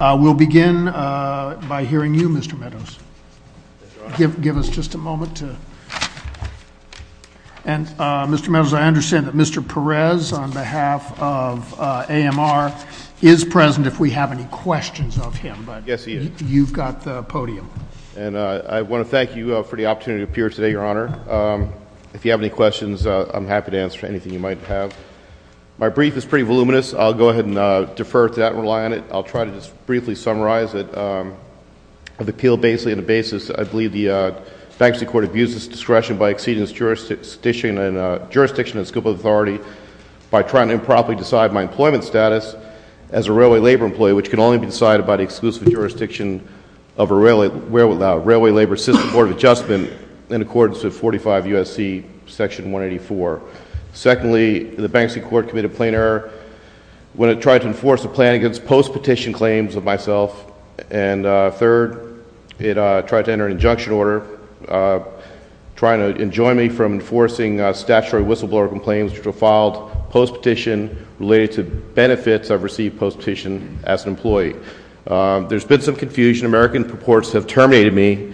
We'll begin by hearing you, Mr. Meadows. Give us just a moment to... And, Mr. Meadows, I understand that Mr. Perez, on behalf of AMR, is present if we have any questions of him. Yes, he is. You've got the podium. And I want to thank you for the opportunity to appear today, Your Honor. If you have any questions, I'm happy to answer anything you might have. My brief is pretty voluminous. I'll go ahead and defer to that and rely on it. I'll try to just briefly summarize it. I've appealed basically on the basis, I believe, the Banksy Court abuses discretion by exceeding its jurisdiction and scope of authority by trying to improperly decide my employment status as a railway labor employee, which can only be decided by the exclusive jurisdiction of a railway labor system Board of Adjustment in accordance with 45 U.S.C. Section 184. Secondly, the Banksy Court committed a plain error when it tried to enforce a plan against post-petition claims of myself. And third, it tried to enter an injunction order trying to enjoin me from enforcing statutory whistleblower complaints which were filed post-petition related to benefits I've received post-petition as an employee. There's been some confusion. American reports have terminated me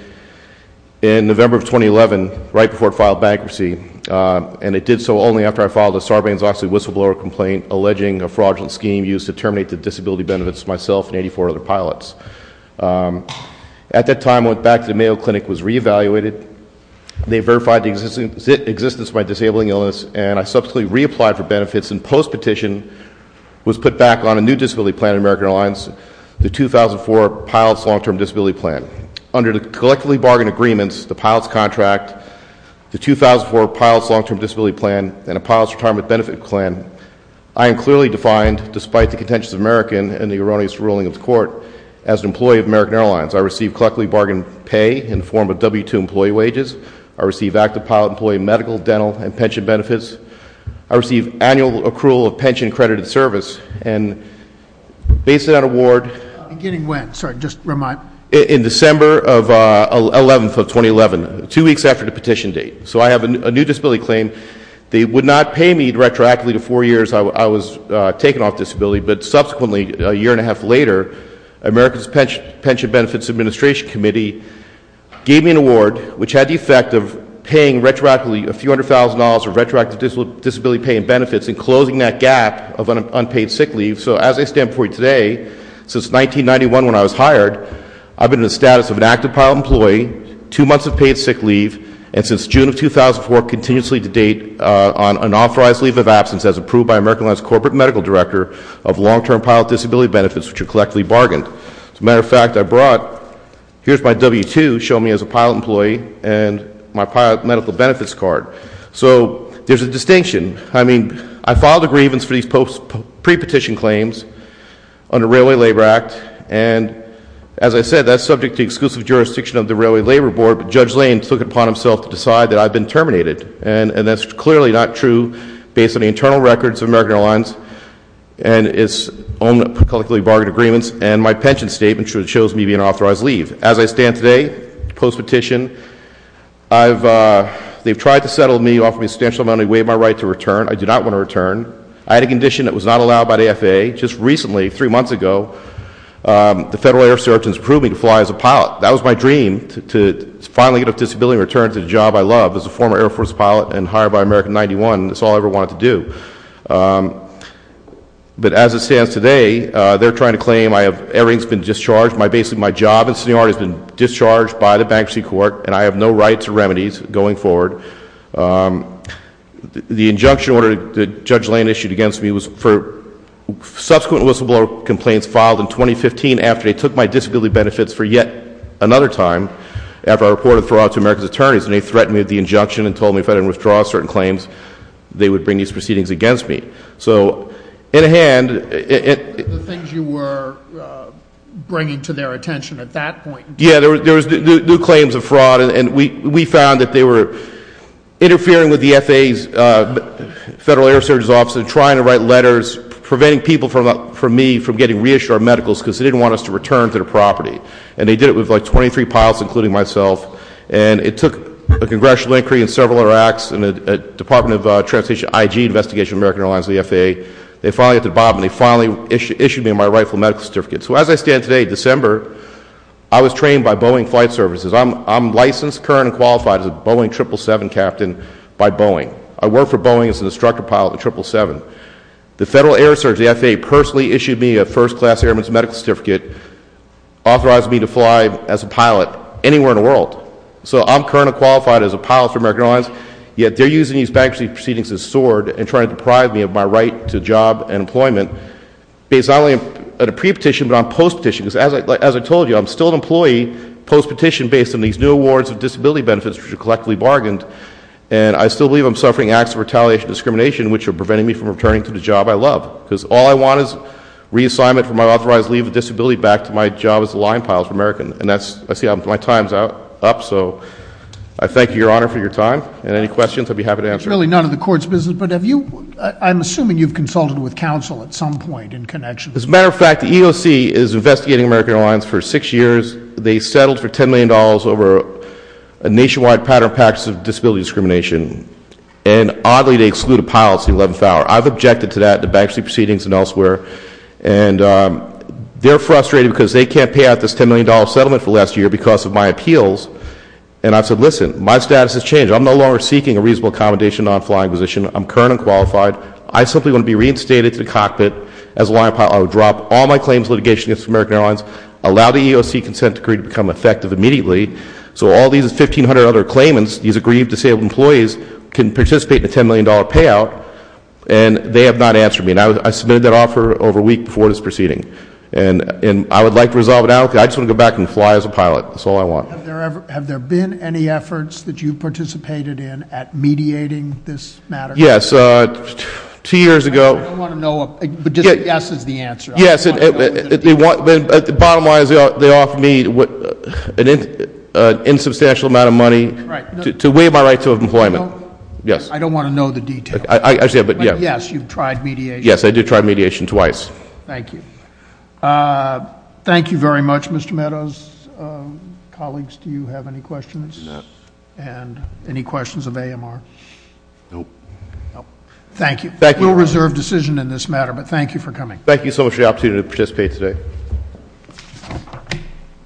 in November of 2011 right before I filed bankruptcy, and it did so only after I filed a Sarbanes-Oxley whistleblower complaint alleging a fraudulent scheme used to terminate the disability benefits of myself and 84 other pilots. At that time, I went back to the Mayo Clinic and was re-evaluated. They verified the existence of my disabling illness, and I subsequently reapplied for benefits, and post-petition was put back on a new disability plan at American Airlines, the 2004 Pilots Long-Term Disability Plan. Under the collectively bargained agreements, the pilots contract, the 2004 Pilots Long-Term Disability Plan, and the Pilots Retirement Benefit Plan, I am clearly defined, despite the contentions of American and the erroneous ruling of the court, as an employee of American Airlines. I receive collectively bargained pay in the form of W-2 employee wages. I receive active pilot employee medical, dental, and pension benefits. I receive annual accrual of pension-credited service, and based on that award— Beginning when? Sorry, just remind me. In December 11, 2011, two weeks after the petition date. So I have a new disability claim. They would not pay me retroactively the four years I was taken off disability, but subsequently, a year and a half later, America's Pension Benefits Administration Committee gave me an award, which had the effect of paying retroactively a few hundred thousand dollars of retroactive disability pay and benefits, and closing that gap of unpaid sick leave. So as I stand before you today, since 1991 when I was hired, I've been in the status of an active pilot employee, two months of paid sick leave, and since June of 2004, continuously to date on an authorized leave of absence as approved by American Airlines Corporate Medical Director of Long-Term Pilot Disability Benefits, which are collectively bargained. As a matter of fact, I brought—here's my W-2, show me as a pilot employee, and my pilot medical benefits card. So there's a distinction. I mean, I filed a grievance for these pre-petition claims under Railway Labor Act, and as I said, that's subject to exclusive jurisdiction of the Railway Labor Board, but Judge Lane took it upon himself to decide that I've been terminated, and that's clearly not true based on the internal records of American Airlines and its own collectively bargained agreements and my pension statement, which shows me being authorized to leave. As I stand today, post-petition, they've tried to settle me, they've offered me a substantial amount of money, waived my right to return. I do not want to return. I had a condition that was not allowed by the AFA. Just recently, three months ago, the federal air sergeants approved me to fly as a pilot. That was my dream, to finally get a disability and return to the job I love, as a former Air Force pilot and hired by American 91. That's all I ever wanted to do. But as it stands today, they're trying to claim I have—airings have been discharged, my job and seniority has been discharged by the bankruptcy court, and I have no right to remedies going forward. The injunction order that Judge Lane issued against me was for subsequent whistleblower complaints filed in 2015 after they took my disability benefits for yet another time, after I reported fraud to America's attorneys, and they threatened me with the injunction and told me if I didn't withdraw certain claims, they would bring these proceedings against me. So, in a hand— The things you were bringing to their attention at that point. Yeah, there was new claims of fraud, and we found that they were interfering with the FAA's federal air sergeant's office and trying to write letters preventing people from me from getting reissued our medicals because they didn't want us to return to their property. And they did it with like 23 pilots, including myself, and it took a congressional inquiry and several other acts and the Department of Transportation, IG, Investigation of American Airlines, and the FAA. They finally got to the bottom, and they finally issued me my rightful medical certificate. So, as I stand today, December, I was trained by Boeing Flight Services. I'm licensed, current, and qualified as a Boeing 777 captain by Boeing. I work for Boeing as an instructor pilot at the 777. The federal air sergeant, the FAA, personally issued me a first-class airman's medical certificate, authorized me to fly as a pilot anywhere in the world. So, I'm current and qualified as a pilot for American Airlines, yet they're using these bankruptcy proceedings as a sword and trying to deprive me of my right to a job and employment based not only on a pre-petition but on post-petition. As I told you, I'm still an employee post-petition based on these new awards of disability benefits which are collectively bargained, and I still believe I'm suffering acts of retaliation and discrimination which are preventing me from returning to the job I love because all I want is reassignment from my authorized leave of disability back to my job as a line pilot for American. And I see my time's up, so I thank you, Your Honor, for your time. And any questions, I'd be happy to answer. It's really none of the court's business, but have you, I'm assuming you've consulted with counsel at some point in connection. As a matter of fact, the EEOC is investigating American Airlines for six years. They settled for $10 million over a nationwide pattern of practices of disability discrimination, and oddly they excluded pilots in the 11th hour. I've objected to that in the bankruptcy proceedings and elsewhere, and they're frustrated because they can't pay out this $10 million settlement for last year because of my appeals, and I've said, listen, my status has changed. I'm no longer seeking a reasonable accommodation on a flying position. I'm current and qualified. I simply want to be reinstated to the cockpit as a line pilot. I would drop all my claims litigation against American Airlines, allow the EEOC consent decree to become effective immediately, so all these 1,500 other claimants, these aggrieved disabled employees, can participate in a $10 million payout, and they have not answered me. And I submitted that offer over a week before this proceeding, and I would like to resolve it now because I just want to go back and fly as a pilot. That's all I want. Have there been any efforts that you've participated in at mediating this matter? Yes. Two years ago. I don't want to know, but just a yes is the answer. Yes. Bottom line is they offered me an insubstantial amount of money to waive my right to employment. I don't want to know the details. Yes, you've tried mediation. Yes, I did try mediation twice. Thank you. Thank you very much, Mr. Meadows. Colleagues, do you have any questions? No. And any questions of AMR? No. Thank you. We'll reserve decision in this matter, but thank you for coming. Thank you so much for the opportunity to participate today.